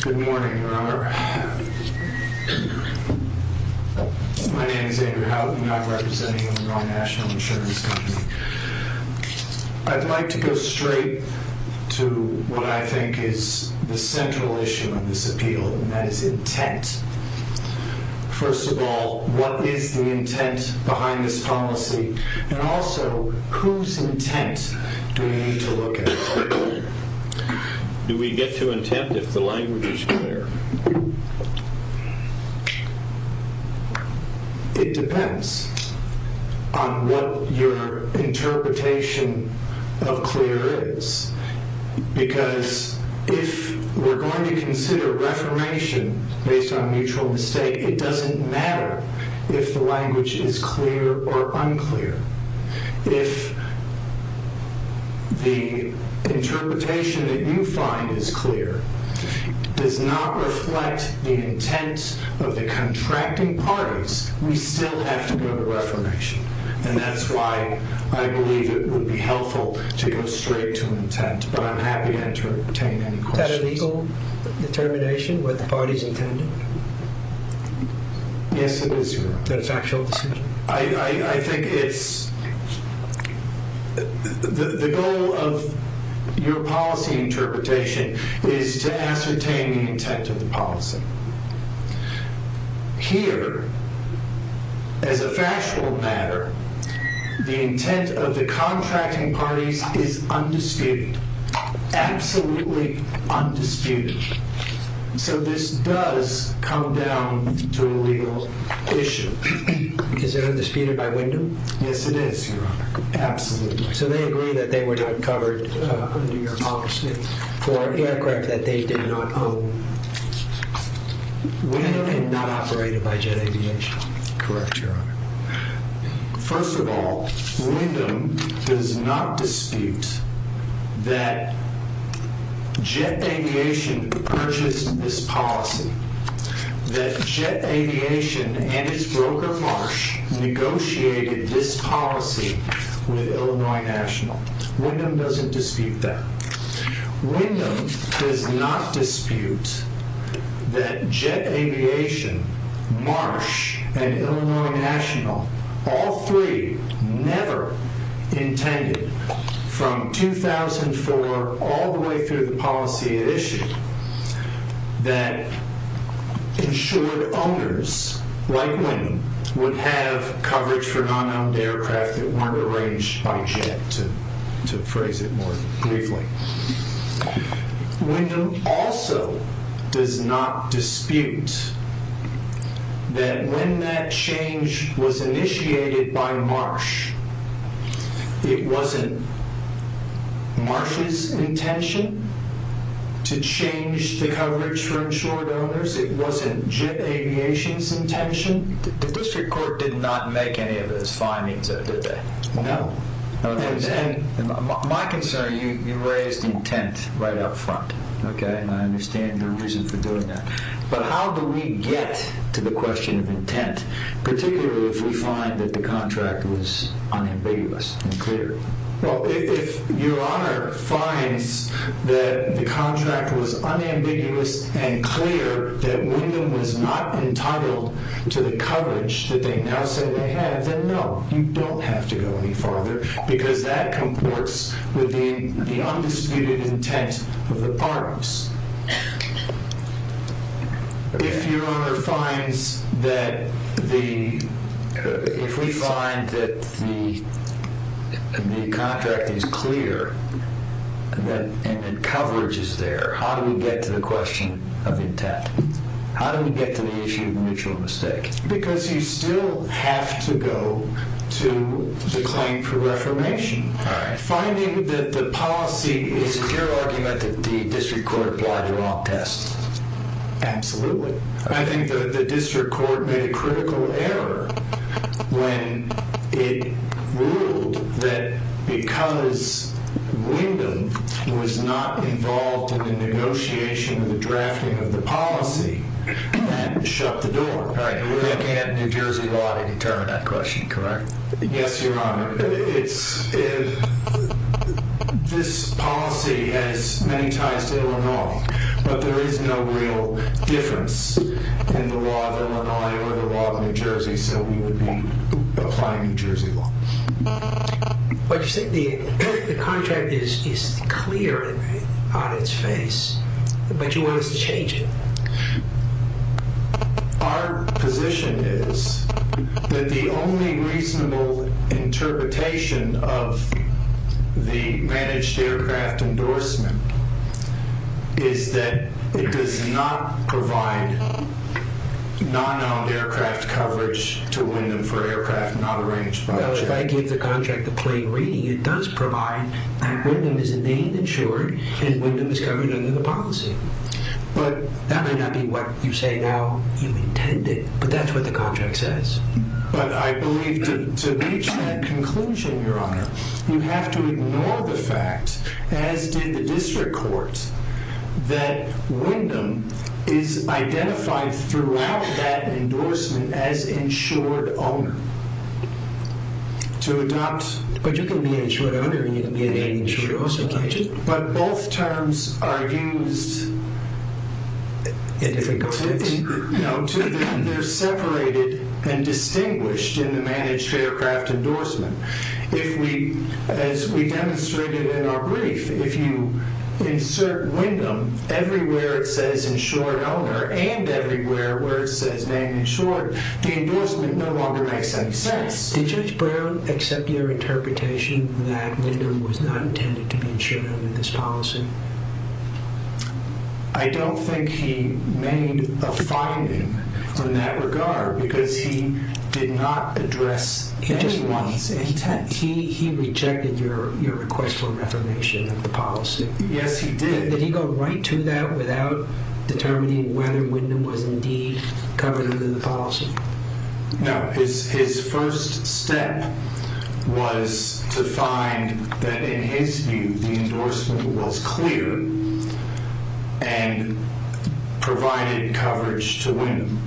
Good morning, Governor. My name is Andrew Howden. I'm representing Illinois National Insurance Company. I'd like to go straight to what I think is the central issue in this appeal, and that is intent. First of all, what is the intent behind this policy? And also, whose intent do we need to look at? Do we get to intent if the language is clear? It depends on what your interpretation of clear is. Because if we're going to consider reformation based on mutual mistake, it doesn't matter if the language is clear or unclear. If the interpretation that you find is clear does not reflect the intent of the contracting parties, we still have to go to reformation. And that's why I believe it would be helpful to go straight to intent, but I'm happy to entertain any questions. Is that a legal determination, what the parties intended? Yes, it is, Your Honor. That it's an actual decision? I think it's the goal of your policy interpretation is to ascertain the intent of the policy. Here, as a factual matter, the intent of the contracting parties is undisputed. Absolutely undisputed. So this does come down to a legal issue. Is it undisputed by Wyndham? Yes, it is, Your Honor. Absolutely. So they agree that they were not covered under your policy for aircraft that they did not own? Wyndham is not operated by Jet Aviation. Correct, Your Honor. First of all, Wyndham does not dispute that Jet Aviation purchased this policy, that Jet Aviation and its broker Marsh negotiated this policy with Illinois National. Wyndham doesn't dispute that. Wyndham does not dispute that Jet Aviation, Marsh, and Illinois National, all three never intended, from 2004 all the way through the policy it issued, that insured owners, like Wyndham, would have coverage for non-owned aircraft that weren't arranged by Jet, to phrase it more briefly. Wyndham also does not dispute that when that change was initiated by Marsh, it wasn't Marsh's intention to change the coverage for insured owners. It wasn't Jet Aviation's intention. The district court did not make any of those findings, though, did they? No. My concern, you raised intent right up front, okay? And I understand your reason for doing that. But how do we get to the question of intent, particularly if we find that the contract was unambiguous and clear? Well, if Your Honor finds that the contract was unambiguous and clear, that Wyndham was not entitled to the coverage that they now say they have, then no, you don't have to go any farther, because that comports with the undisputed intent of the parties. If Your Honor finds that the contract is clear and that coverage is there, how do we get to the question of intent? How do we get to the issue of mutual mistake? Because you still have to go to the claim for reformation. All right. Finding that the policy is clear argument that the district court applied the wrong test. Absolutely. I think that the district court made a critical error when it ruled that because Wyndham was not involved in the negotiation, the drafting of the policy, that shut the door. All right. You really can't have New Jersey law to determine that question, correct? Yes, Your Honor. This policy has many ties to Illinois, but there is no real difference in the law of Illinois or the law of New Jersey, so we would be applying New Jersey law. But you said the contract is clear on its face, but you want us to change it. Our position is that the only reasonable interpretation of the managed aircraft endorsement is that it does not provide non-owned aircraft coverage to Wyndham for aircraft not arranged by a check. Well, if I give the contract a plain reading, it does provide that Wyndham is named and insured and Wyndham is covered under the policy. That might not be what you say now you intended, but that's what the contract says. But I believe to reach that conclusion, Your Honor, you have to ignore the fact, as did the district court, that Wyndham is identified throughout that endorsement as insured owner. But you can be an insured owner and you can be an insured also, can't you? But both terms are used, they're separated and distinguished in the managed aircraft endorsement. As we demonstrated in our brief, if you insert Wyndham everywhere it says insured owner and everywhere where it says named insured, the endorsement no longer makes any sense. Did Judge Brown accept your interpretation that Wyndham was not intended to be insured under this policy? I don't think he made a finding in that regard because he did not address any of these intents. He rejected your request for reformation of the policy. Yes, he did. Did he go right to that without determining whether Wyndham was indeed covered under the policy? No, his first step was to find that in his view the endorsement was clear and provided coverage to Wyndham.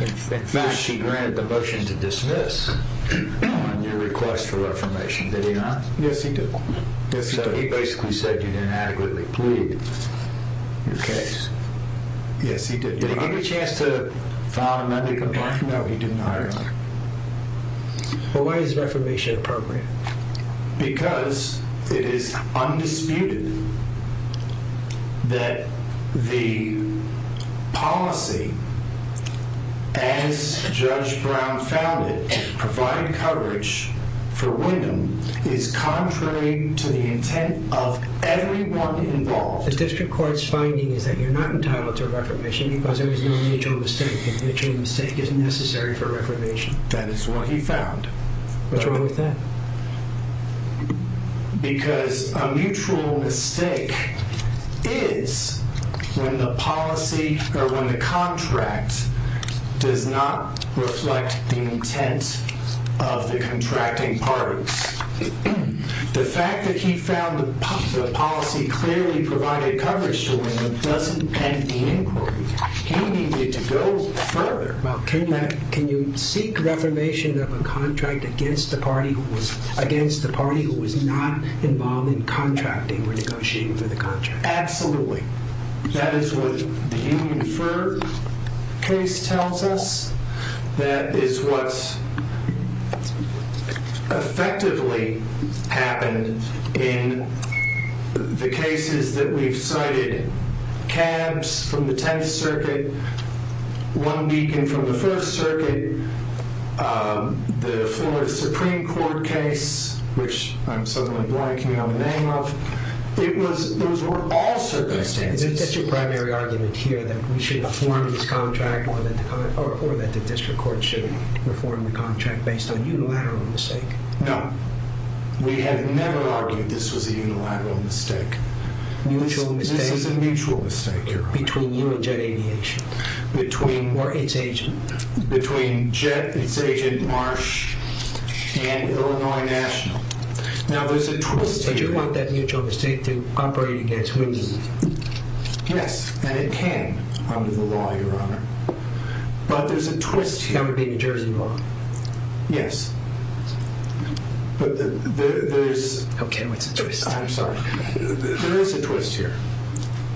In fact, he granted the motion to dismiss on your request for reformation, did he not? Yes, he did. So he basically said you didn't adequately plead your case. Yes, he did. Did he give you a chance to file an undeclaration? No, he did not. Why is reformation appropriate? Because it is undisputed that the policy as Judge Brown found it, providing coverage for Wyndham, is contrary to the intent of everyone involved. The District Court's finding is that you're not entitled to reformation because there is no mutual mistake, and a mutual mistake is necessary for reformation. That is what he found. What's wrong with that? Because a mutual mistake is when the policy or when the contract does not reflect the intent of the contracting parties. The fact that he found the policy clearly provided coverage to Wyndham doesn't end the inquiry. He needed to go further. Can you seek reformation of a contract against the party who was not involved in contracting or negotiating for the contract? Absolutely. That is what the Healy and Furr case tells us. That is what effectively happened in the cases that we've cited. Cabs from the Tenth Circuit, one deacon from the First Circuit, the Florida Supreme Court case, which I'm suddenly blanking on the name of. Those were all circumstances. Is it your primary argument here that we should reform this contract or that the District Court should reform the contract based on unilateral mistake? No. We have never argued this was a unilateral mistake. Mutual mistake? This is a mutual mistake, Your Honor. Between you and Jet Aviation? Or its agent? Between Jet, its agent, Marsh, and Illinois National. Now, there's a twist here. But you want that mutual mistake to operate against Wyndham? Yes, and it can under the law, Your Honor. But there's a twist here. Under the New Jersey law? Yes. Okay, what's the twist? I'm sorry. There is a twist here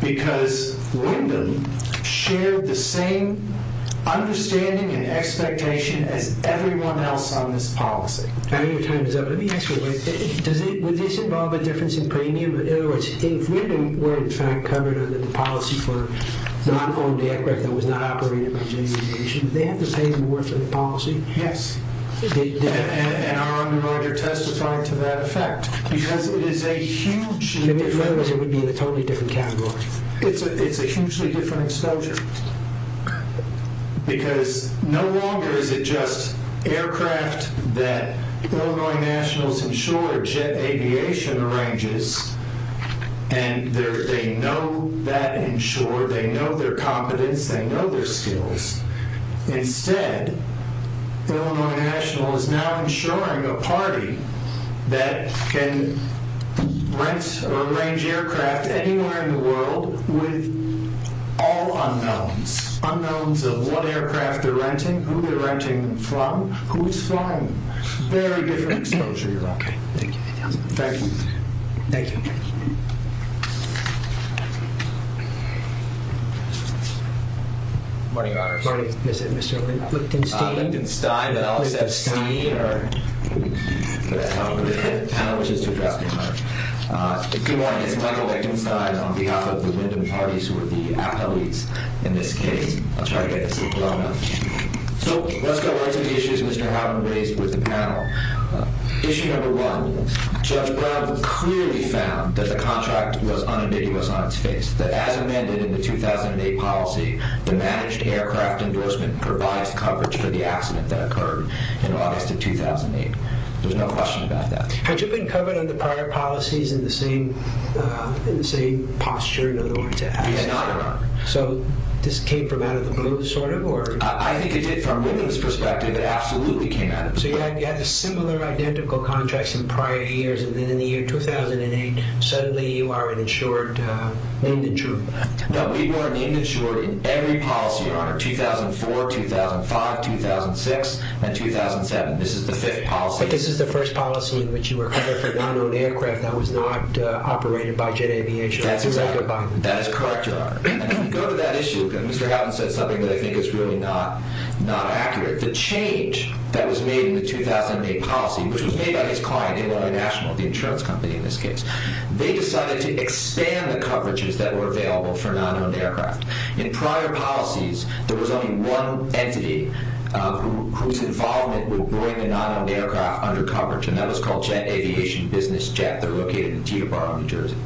because Wyndham shared the same understanding and expectation as everyone else on this policy. Let me ask you a question. Would this involve a difference in premium? In other words, if Wyndham were, in fact, covered under the policy for non-owned aircraft that was not operated by Jet Aviation, would they have to pay more for the policy? Yes. And our underminers are testifying to that effect. Because it is a huge difference. In other words, it would be in a totally different category. It's a hugely different exposure. Because no longer is it just aircraft that Illinois Nationals insure Jet Aviation arranges, and they know that insure, they know their competence, they know their skills. Instead, Illinois Nationals is now insuring a party that can rent or arrange aircraft anywhere in the world with all unknowns. Unknowns of what aircraft they're renting, who they're renting from, who's flying them. Very different exposure, Your Honor. Okay, thank you. Thank you. Thank you. Good morning, Your Honor. Good morning, Mr. Lichtenstein. Lichtenstein, but I'll accept Steiner. But that's not what the panel wishes to address, Your Honor. If you want, it's Michael Lichtenstein on behalf of the Wyndham parties who are the appellees in this case. I'll try to get this to flow enough. So let's go right to the issues Mr. Houghton raised with the panel. Issue number one, Judge Brown clearly found that the contract was unambiguous on its face. That as amended in the 2008 policy, the managed aircraft endorsement provides coverage for the accident that occurred in August of 2008. There's no question about that. Had you been covered under prior policies in the same posture in Illinois, to ask? He's not, Your Honor. So this came from out of the blue, sort of? I think it did from Wyndham's perspective. It absolutely came out of the blue. So you had similar, identical contracts in prior years. And then in the year 2008, suddenly you are an insured, named insured. No, people are named insured in every policy, Your Honor. 2004, 2005, 2006, and 2007. This is the fifth policy. But this is the first policy in which you were covered for non-owned aircraft that was not operated by Jet Aviation. That's exactly right. That is correct, Your Honor. And when you go to that issue, Mr. Houghton said something that I think is really not accurate. The change that was made in the 2008 policy, which was made by his client, Illinois National, the insurance company in this case, they decided to expand the coverages that were available for non-owned aircraft. In prior policies, there was only one entity whose involvement would bring a non-owned aircraft under coverage, and that was called Jet Aviation Business Jet. They're located in Teterboro, New Jersey.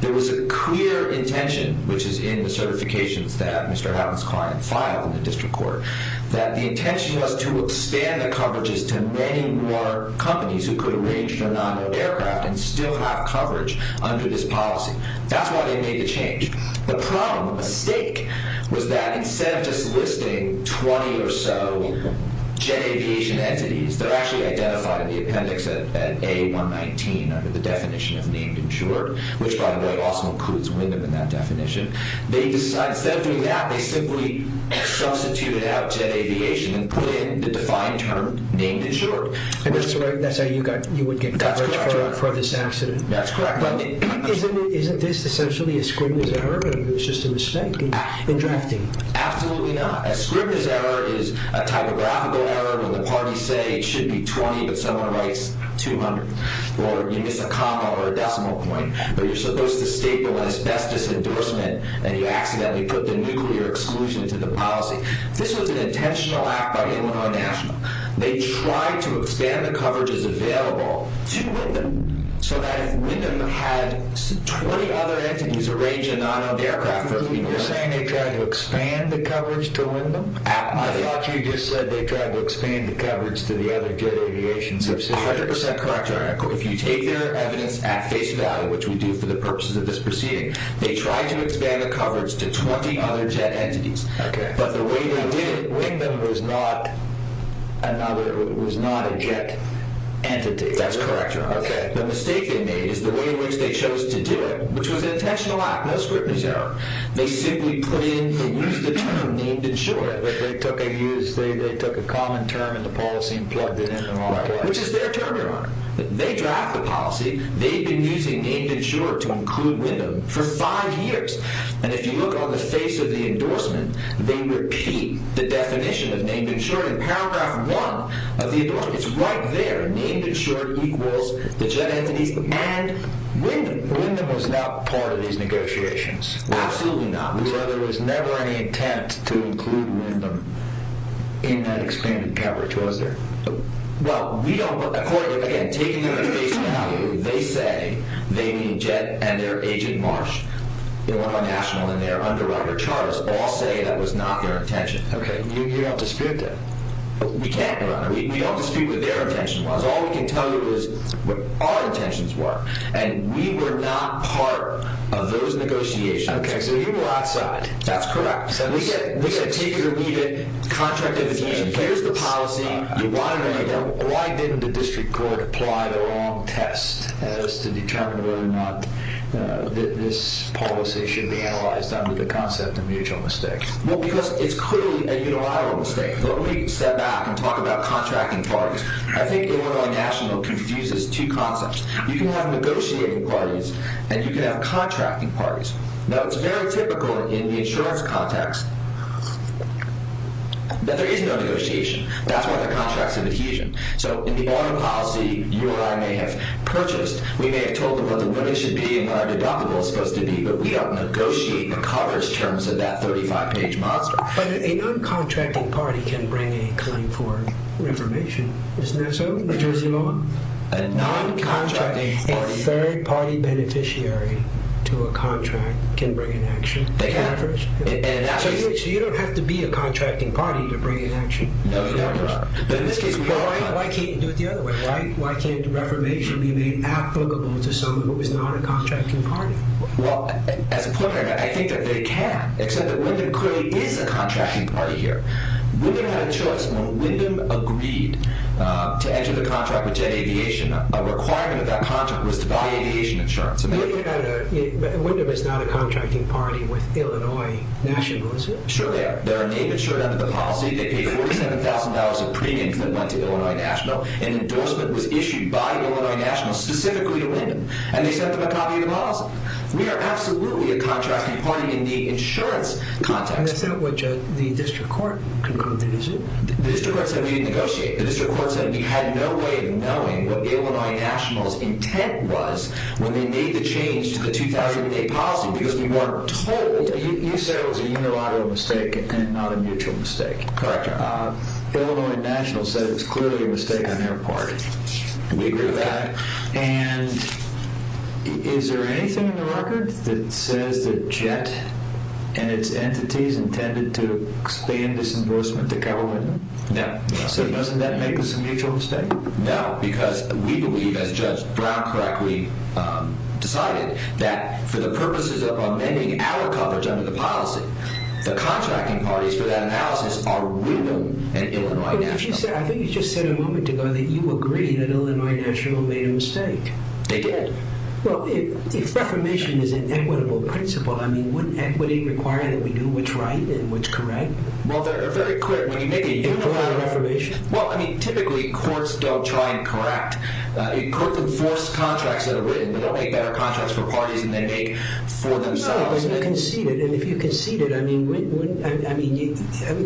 There was a clear intention, which is in the certifications that Mr. Houghton's client filed in the district court, that the intention was to expand the coverages to many more companies who could arrange their non-owned aircraft and still have coverage under this policy. That's why they made the change. The problem, the mistake, was that instead of just listing 20 or so Jet Aviation entities, they're actually identified in the appendix at A119 under the definition of named insured, which, by the way, also includes Wyndham in that definition. Instead of doing that, they simply substituted out Jet Aviation and put in the defined term, named insured. That's how you would get coverage for this accident. That's correct. Isn't this essentially a scrivener's error? It's just a mistake in drafting. Absolutely not. A scrivener's error is a typographical error when the parties say it should be 20, but someone writes 200. Or you miss a comma or a decimal point, but you're supposed to state the one that's best as endorsement, and you accidentally put the nuclear exclusion to the policy. This was an intentional act by Illinois National. They tried to expand the coverages available to Wyndham, so that if Wyndham had 20 other entities arrange a non-owned aircraft for people— You're saying they tried to expand the coverage to Wyndham? I thought you just said they tried to expand the coverage to the other Jet Aviation subsidiaries. That's 100% correct, Eric. If you take their evidence at face value, which we do for the purposes of this proceeding, they tried to expand the coverage to 20 other Jet entities. But the way they did it, Wyndham was not a Jet entity. That's correct. The mistake they made is the way in which they chose to do it, which was an intentional act, no scrivener's error. They simply put in the used term, named insured. They took a common term in the policy and plugged it in. Which is their term you're on. They draft the policy. They've been using named insured to include Wyndham for five years. And if you look on the face of the endorsement, they repeat the definition of named insured in paragraph one of the endorsement. It's right there. Named insured equals the Jet entities and Wyndham. Wyndham was not part of these negotiations. Absolutely not. There was never any intent to include Wyndham in that expanded coverage, was there? Well, we don't, according to, again, taking them at face value, they say they mean Jet and their agent Marsh, Illinois National and their underwriter, Charles, all say that was not their intention. Okay. You don't dispute that? We can't, Your Honor. We don't dispute what their intention was. All we can tell you is what our intentions were. And we were not part of those negotiations. Okay. So you were outside. That's correct. And we said, take your lead in contractification. Here's the policy. Why didn't the district court apply the wrong test as to determine whether or not this policy should be analyzed under the concept of mutual mistake? Well, because it's clearly a unilateral mistake. Let me step back and talk about contracting parties. I think Illinois National confuses two concepts. You can have negotiating parties and you can have contracting parties. Now, it's very typical in the insurance context that there is no negotiation. That's why the contracts have adhesion. So in the audit policy, you or I may have purchased. We may have told them what it should be and what our deductible is supposed to be, but we don't negotiate the coverage terms of that 35-page monster. But a non-contracting party can bring a claim for reformation. Isn't that so in New Jersey law? A non-contracting party. A third-party beneficiary to a contract can bring an action. They can. So you don't have to be a contracting party to bring an action. No, you never are. But in this case, why can't you do it the other way? Why can't reformation be made applicable to someone who is not a contracting party? Well, as a pointer, I think that they can, except that Wyndham clearly is a contracting party here. Wyndham had a choice. When Wyndham agreed to enter the contract with Jet Aviation, a requirement of that contract was to buy aviation insurance. Wyndham is not a contracting party with Illinois National, is it? Sure they are. They're a name insured under the policy. They paid $47,000 of premiums that went to Illinois National. An endorsement was issued by Illinois National specifically to Wyndham, and they sent them a copy of the policy. We are absolutely a contracting party in the insurance context. Is that what the district court concluded, is it? The district court said we didn't negotiate. The district court said we had no way of knowing what Illinois National's intent was when they made the change to the 2,000-day policy because we weren't told. You said it was a unilateral mistake and not a mutual mistake. Correct. Illinois National said it was clearly a mistake on their part. We agree with that. Is there anything in the record that says that Jet and its entities intended to expand this endorsement to cover Wyndham? No. Doesn't that make this a mutual mistake? No, because we believe, as Judge Brown correctly decided, that for the purposes of amending our coverage under the policy, I think you just said a moment ago that you agree that Illinois National made a mistake. They did. Well, if reformation is an equitable principle, wouldn't equity require that we do what's right and what's correct? Well, they're very clear. When you make a unilateral reformation, typically courts don't try and correct. Courts enforce contracts that are written. They'll make better contracts for parties than they make for themselves. No, but you concede it, and if you concede it,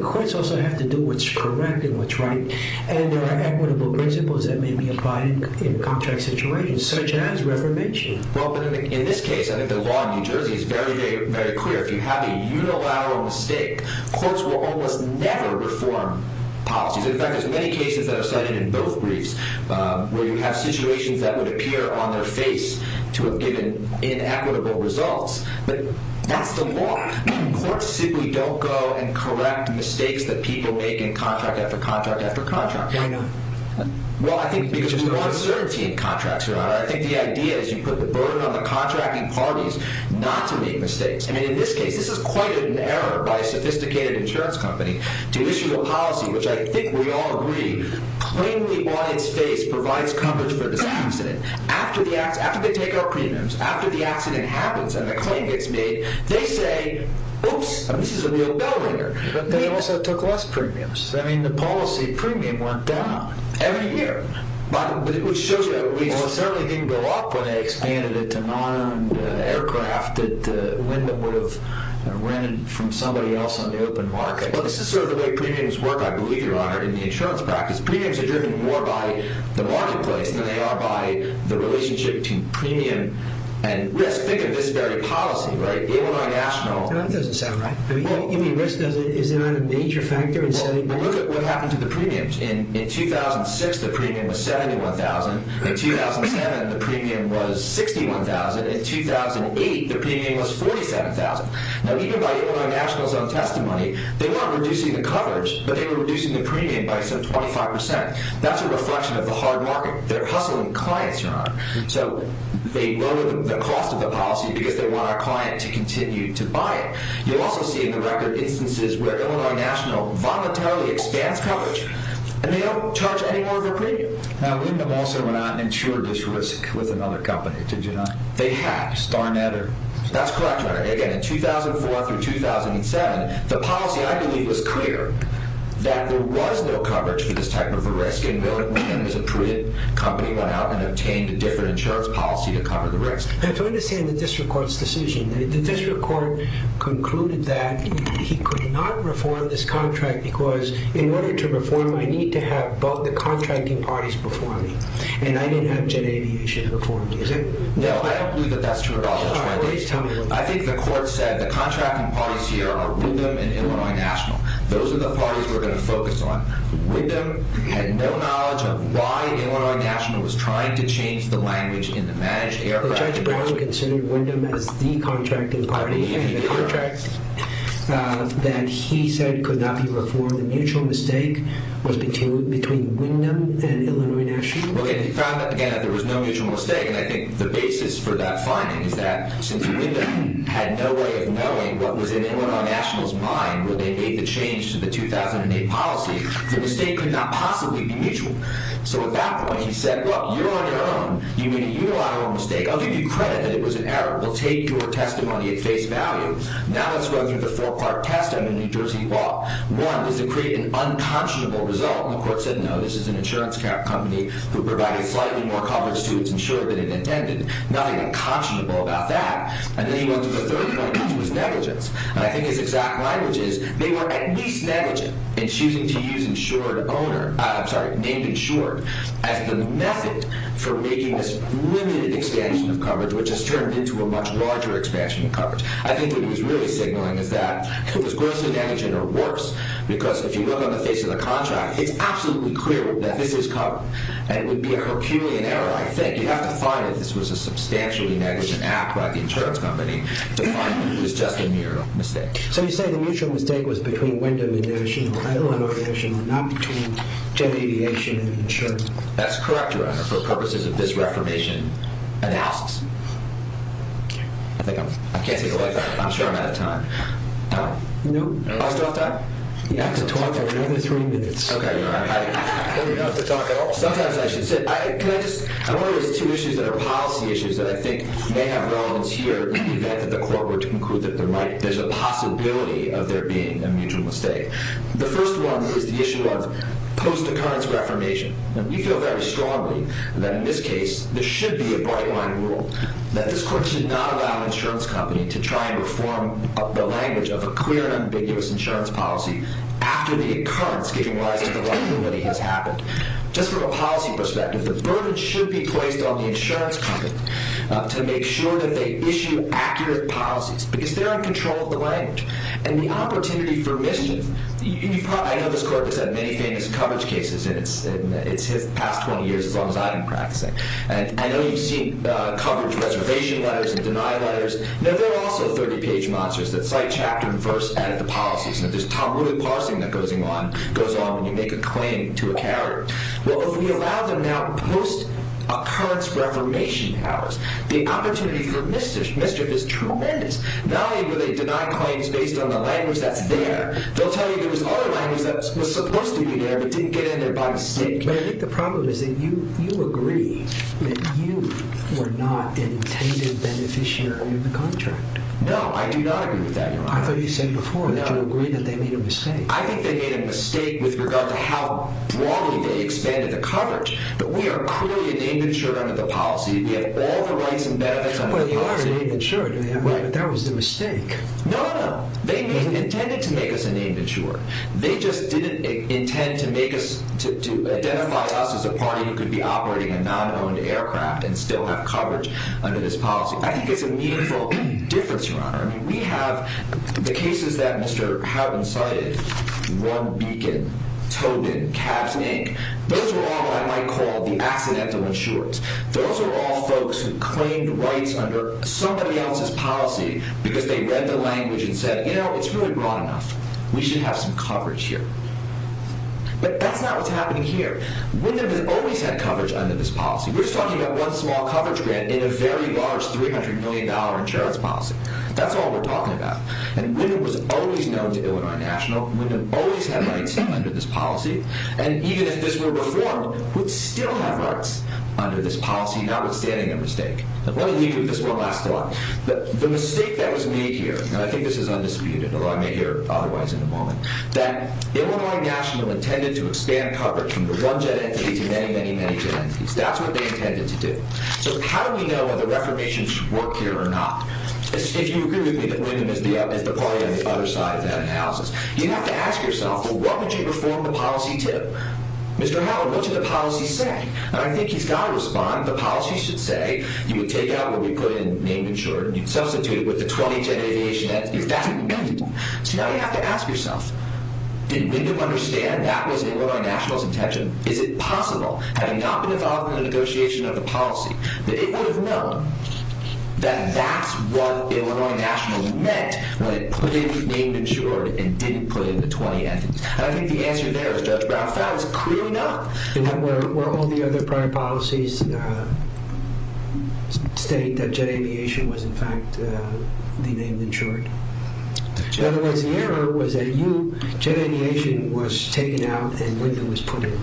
courts also have to do what's correct and what's right, and there are equitable principles that may be applied in contract situations, such as reformation. Well, but in this case, I think the law in New Jersey is very, very clear. If you have a unilateral mistake, courts will almost never reform policies. In fact, there's many cases that are cited in both briefs where you have situations that would appear on their face to have given inequitable results, but that's the law. Courts simply don't go and correct mistakes that people make in contract after contract after contract. I know. Well, I think because there's more uncertainty in contracts, Your Honor, I think the idea is you put the burden on the contracting parties not to make mistakes. I mean, in this case, this is quite an error by a sophisticated insurance company to issue a policy which I think we all agree plainly on its face provides coverage for this incident. After the takeout premiums, after the accident happens and the claim gets made, they say, oops, this is a real bill here. But they also took less premiums. I mean, the policy premium went down every year. But it would show you that we certainly didn't go up when they expanded it to non-owned aircraft that Lindemann would have rented from somebody else on the open market. Well, this is sort of the way premiums work, I believe, Your Honor, in the insurance practice. Premiums are driven more by the marketplace than they are by the relationship between premium and risk. When I think of this very policy, Illinois National... That doesn't sound right. You mean risk is not a major factor in setting premiums? Well, look at what happened to the premiums. In 2006, the premium was $71,000. In 2007, the premium was $61,000. In 2008, the premium was $47,000. Now, even by Illinois National's own testimony, they weren't reducing the coverage, but they were reducing the premium by some 25%. They're hustling clients, Your Honor. So they lowered the cost of the policy because they want our client to continue to buy it. You'll also see in the record instances where Illinois National voluntarily expands coverage and they don't charge any more of their premium. Now, Lindemann also went out and insured this risk with another company, did you not? They had. Starnetter. That's correct, Your Honor. Again, in 2004 through 2007, the policy, I believe, was clear that there was no coverage for this type of a risk. A company went out and obtained a different insurance policy to cover the risk. Now, to understand the district court's decision, the district court concluded that he could not reform this contract because in order to reform it, I need to have both the contracting parties before me. And I didn't have Jet Aviation before me, is it? No, I don't believe that that's true at all. I think the court said the contracting parties here are Lindemann and Illinois National. Those are the parties we're going to focus on. Lindemann had no knowledge of why Illinois National was trying to change the language in the managed aircraft industry. Judge Brown considered Lindemann as the contracting party in the contract that he said could not be reformed. The mutual mistake was between Lindemann and Illinois National. Well, they found out, again, that there was no mutual mistake, and I think the basis for that finding is that since Lindemann had no way of knowing what was in Illinois National's mind when they made the change to the 2008 policy, the mistake could not possibly be mutual. So at that point, he said, well, you're on your own. You made a unilateral mistake. I'll give you credit that it was an error. We'll take your testimony at face value. Now let's go through the four-part testimony in New Jersey law. One was to create an unconscionable result. And the court said, no, this is an insurance company who provided slightly more coverage to its insurer than it intended. Nothing unconscionable about that. And then he went to the third point, which was negligence. And I think his exact language is they were at least negligent in choosing to use insured owner – I'm sorry, named insured as the method for making this limited expansion of coverage, which has turned into a much larger expansion of coverage. I think what he was really signaling is that it was grossly negligent or worse, because if you look on the face of the contract, it's absolutely clear that this is covered, and it would be a herculean error, I think. You'd have to find if this was a substantially negligent act by the insurance company to find it was just a mere mistake. So you're saying the mutual mistake was between Wendell & Anderson or Ellen & Anderson and not between Jet Aviation and insurance? That's correct, Your Honor, for purposes of this reformation and asks. I think I'm – I can't take a look. I'm sure I'm out of time. No? No. Am I still off time? You have to talk for another three minutes. Okay, Your Honor. I don't even know if to talk at all. Sometimes I should sit. Can I just – I'm wondering if there's two issues that are policy issues that I think may have relevance here in the event that the court were to conclude that there might – there's a possibility of there being a mutual mistake. The first one is the issue of post-occurrence reformation. We feel very strongly that in this case there should be a bright-line rule that this court should not allow an insurance company to try and reform the language of a clear and ambiguous insurance policy after the occurrence giving rise to the rightful remedy has happened. Just from a policy perspective, the burden should be placed on the insurance company to make sure that they issue accurate policies because they're in control of the language. And the opportunity for mischief – I know this court has had many famous coverage cases in its past 20 years as long as I've been practicing. And I know you've seen coverage reservation letters and deny letters. Now, there are also 30-page monsters that cite chapter and verse and the policies. And there's Tom Wooley parsing that goes on when you make a claim to a carrier. Well, if we allow them now post-occurrence reformation powers, the opportunity for mischief is tremendous. Not only will they deny claims based on the language that's there, they'll tell you there was other language that was supposed to be there but didn't get in there by mistake. But I think the problem is that you agree that you were not an intended beneficiary of the contract. No, I do not agree with that, Your Honor. I thought you said before that you agreed that they made a mistake. I think they made a mistake with regard to how broadly they expanded the coverage. But we are clearly an immature under the policy. We have all the rights and benefits under the policy. Well, you are an immature, but that was a mistake. No, no. They intended to make us an immature. They just didn't intend to make us – to identify us as a party who could be operating a non-owned aircraft and still have coverage under this policy. I think it's a meaningful difference, Your Honor. I mean, we have the cases that Mr. Harbin cited – One Beacon, Tobin, Cabs, Inc. Those are all what I might call the accidental insurers. Those are all folks who claimed rights under somebody else's policy because they read the language and said, you know, it's really broad enough. We should have some coverage here. But that's not what's happening here. Wyndham has always had coverage under this policy. We're talking about one small coverage grant in a very large $300 million insurance policy. That's all we're talking about. And Wyndham was always known to Illinois National. Wyndham always had rights under this policy. And even if this were reformed, we'd still have rights under this policy, notwithstanding a mistake. Let me leave you with this one last thought. The mistake that was made here – and I think this is undisputed, although I may hear otherwise in a moment – that Illinois National intended to expand coverage from the one-jet entities to many, many, many-jet entities. That's what they intended to do. So how do we know whether reformation should work here or not? If you agree with me that Wyndham is the party on the other side of that analysis, you have to ask yourself, well, what would you reform the policy to? Mr. Howard, what should the policy say? And I think he's got to respond. The policy should say you would take out what we put in named insured and you'd substitute it with the 20-jet aviation – if that's what you mean. So now you have to ask yourself, did Wyndham understand that was Illinois National's intention? Is it possible, having not been involved in the negotiation of the policy, that it would have known that that's what Illinois National meant when it put in named insured and didn't put in the 20-jet? I think the answer there, Judge Brown, is clearly not. Were all the other prior policies stating that jet aviation was in fact the named insured? In other words, the error was that jet aviation was taken out and Wyndham was put in.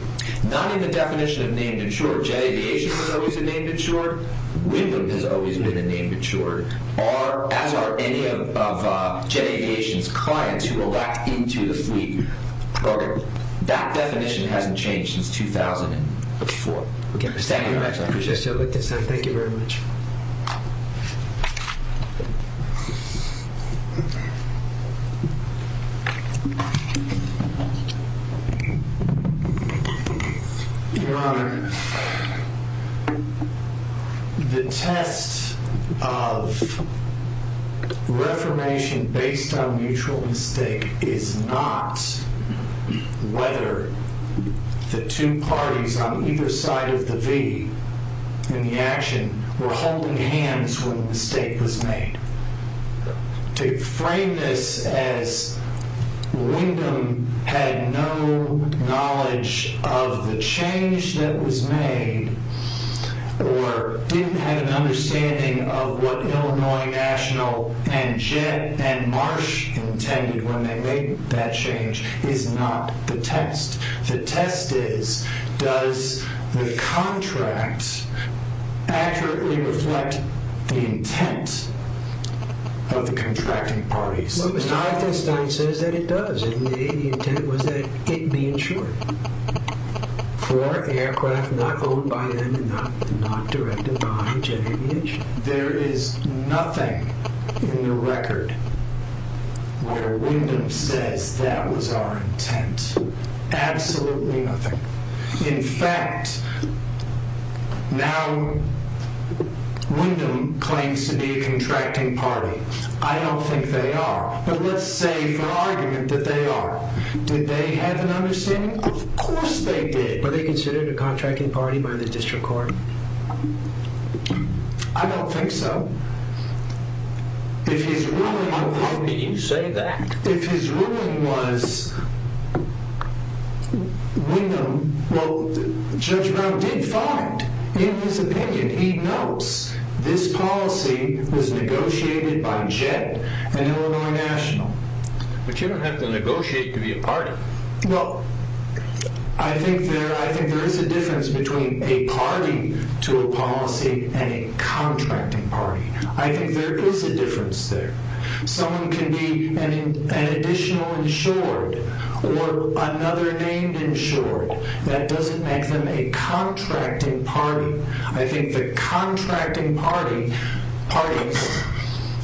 Not in the definition of named insured. Jet aviation was always a named insured. Wyndham has always been a named insured. As are any of jet aviation's clients who elect into the fleet program. That definition hasn't changed since 2004. Thank you very much. I appreciate it. Thank you very much. Your Honor, the test of reformation based on mutual mistake is not whether the two parties on either side of the V in the action were holding hands when the mistake was made. To frame this as Wyndham had no knowledge of the change that was made or didn't have an understanding of what Illinois National and Marsh intended when they made that change is not the test. The test is, does the contract accurately reflect the intent of the contracting parties? Well, Steinstein says that it does. The intent was that it be insured for aircraft not owned by and not directed by jet aviation. There is nothing in the record where Wyndham says that was our intent. Absolutely nothing. In fact, now Wyndham claims to be a contracting party. I don't think they are. But let's say for argument that they are. Did they have an understanding? Of course they did. Were they considered a contracting party by the district court? I don't think so. How can you say that? If his ruling was Wyndham, well Judge Brown did find in his opinion, he knows, this policy was negotiated by jet and Illinois National. But you don't have to negotiate to be a party. Well, I think there is a difference between a party to a policy and a contracting party. I think there is a difference there. Someone can be an additional insured or another named insured. That doesn't make them a contracting party. I think the contracting parties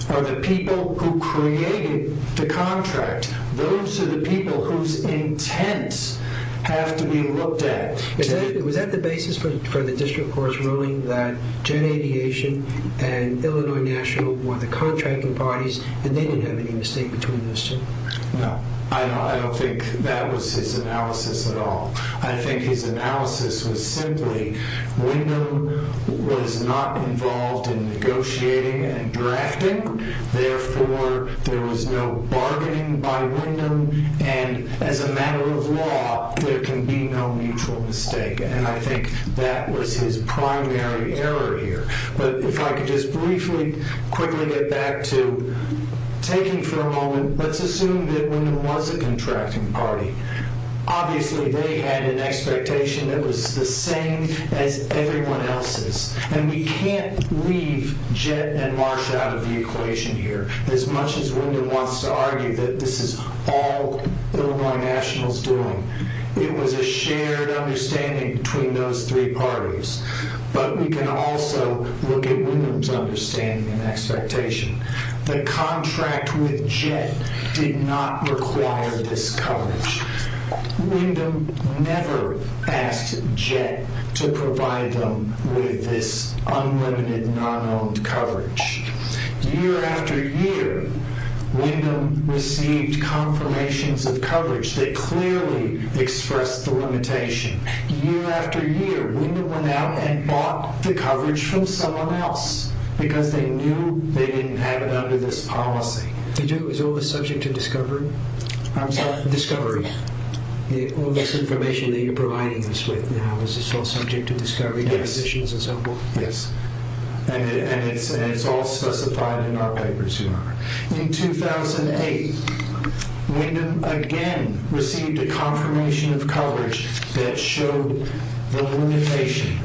are the people who created the contract. Those are the people whose intents have to be looked at. Was that the basis for the district court's ruling that Jet Aviation and Illinois National were the contracting parties and they didn't have any mistake between those two? No, I don't think that was his analysis at all. I think his analysis was simply Wyndham was not involved in negotiating and drafting. Therefore, there was no bargaining by Wyndham. As a matter of law, there can be no mutual mistake. I think that was his primary error here. If I could just briefly, quickly get back to taking for a moment, let's assume that Wyndham was a contracting party. Obviously, they had an expectation that was the same as everyone else's. We can't leave Jet and Marsh out of the equation here. As much as Wyndham wants to argue that this is all Illinois National's doing, it was a shared understanding between those three parties. We can also look at Wyndham's understanding and expectation. The contract with Jet did not require this coverage. Wyndham never asked Jet to provide them with this unlimited non-owned coverage. Year after year, Wyndham received confirmations of coverage that clearly expressed the limitation. Year after year, Wyndham went out and bought the coverage from someone else because they knew they didn't have it under this policy. Is all this subject to discovery? I'm sorry? Discovery. All this information that you're providing us with now, is this all subject to discovery, depositions and so forth? Yes. It's all specified in our papers. In 2008, Wyndham again received a confirmation of coverage that showed the limitation.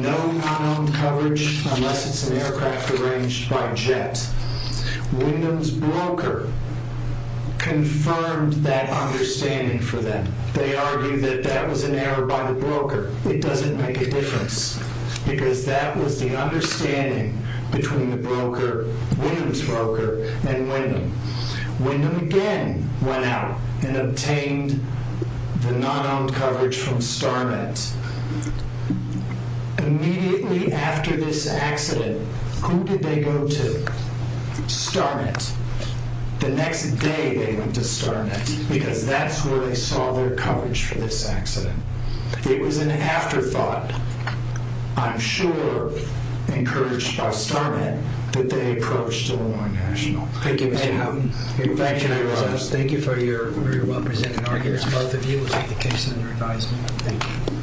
No unowned coverage unless it's an aircraft arranged by Jet. Wyndham's broker confirmed that understanding for them. They argued that that was an error by the broker. It doesn't make a difference because that was the understanding between the broker, Wyndham's broker and Wyndham. Wyndham again went out and obtained the non-owned coverage from StarMet. Immediately after this accident, who did they go to? StarMet. The next day they went to StarMet because that's where they saw their coverage for this accident. It was an afterthought, I'm sure encouraged by StarMet, that they approached Illinois National. Thank you, Mr. Houghton. Thank you. Thank you for your well-presented argument. Both of you will take the case under advisement. Thank you.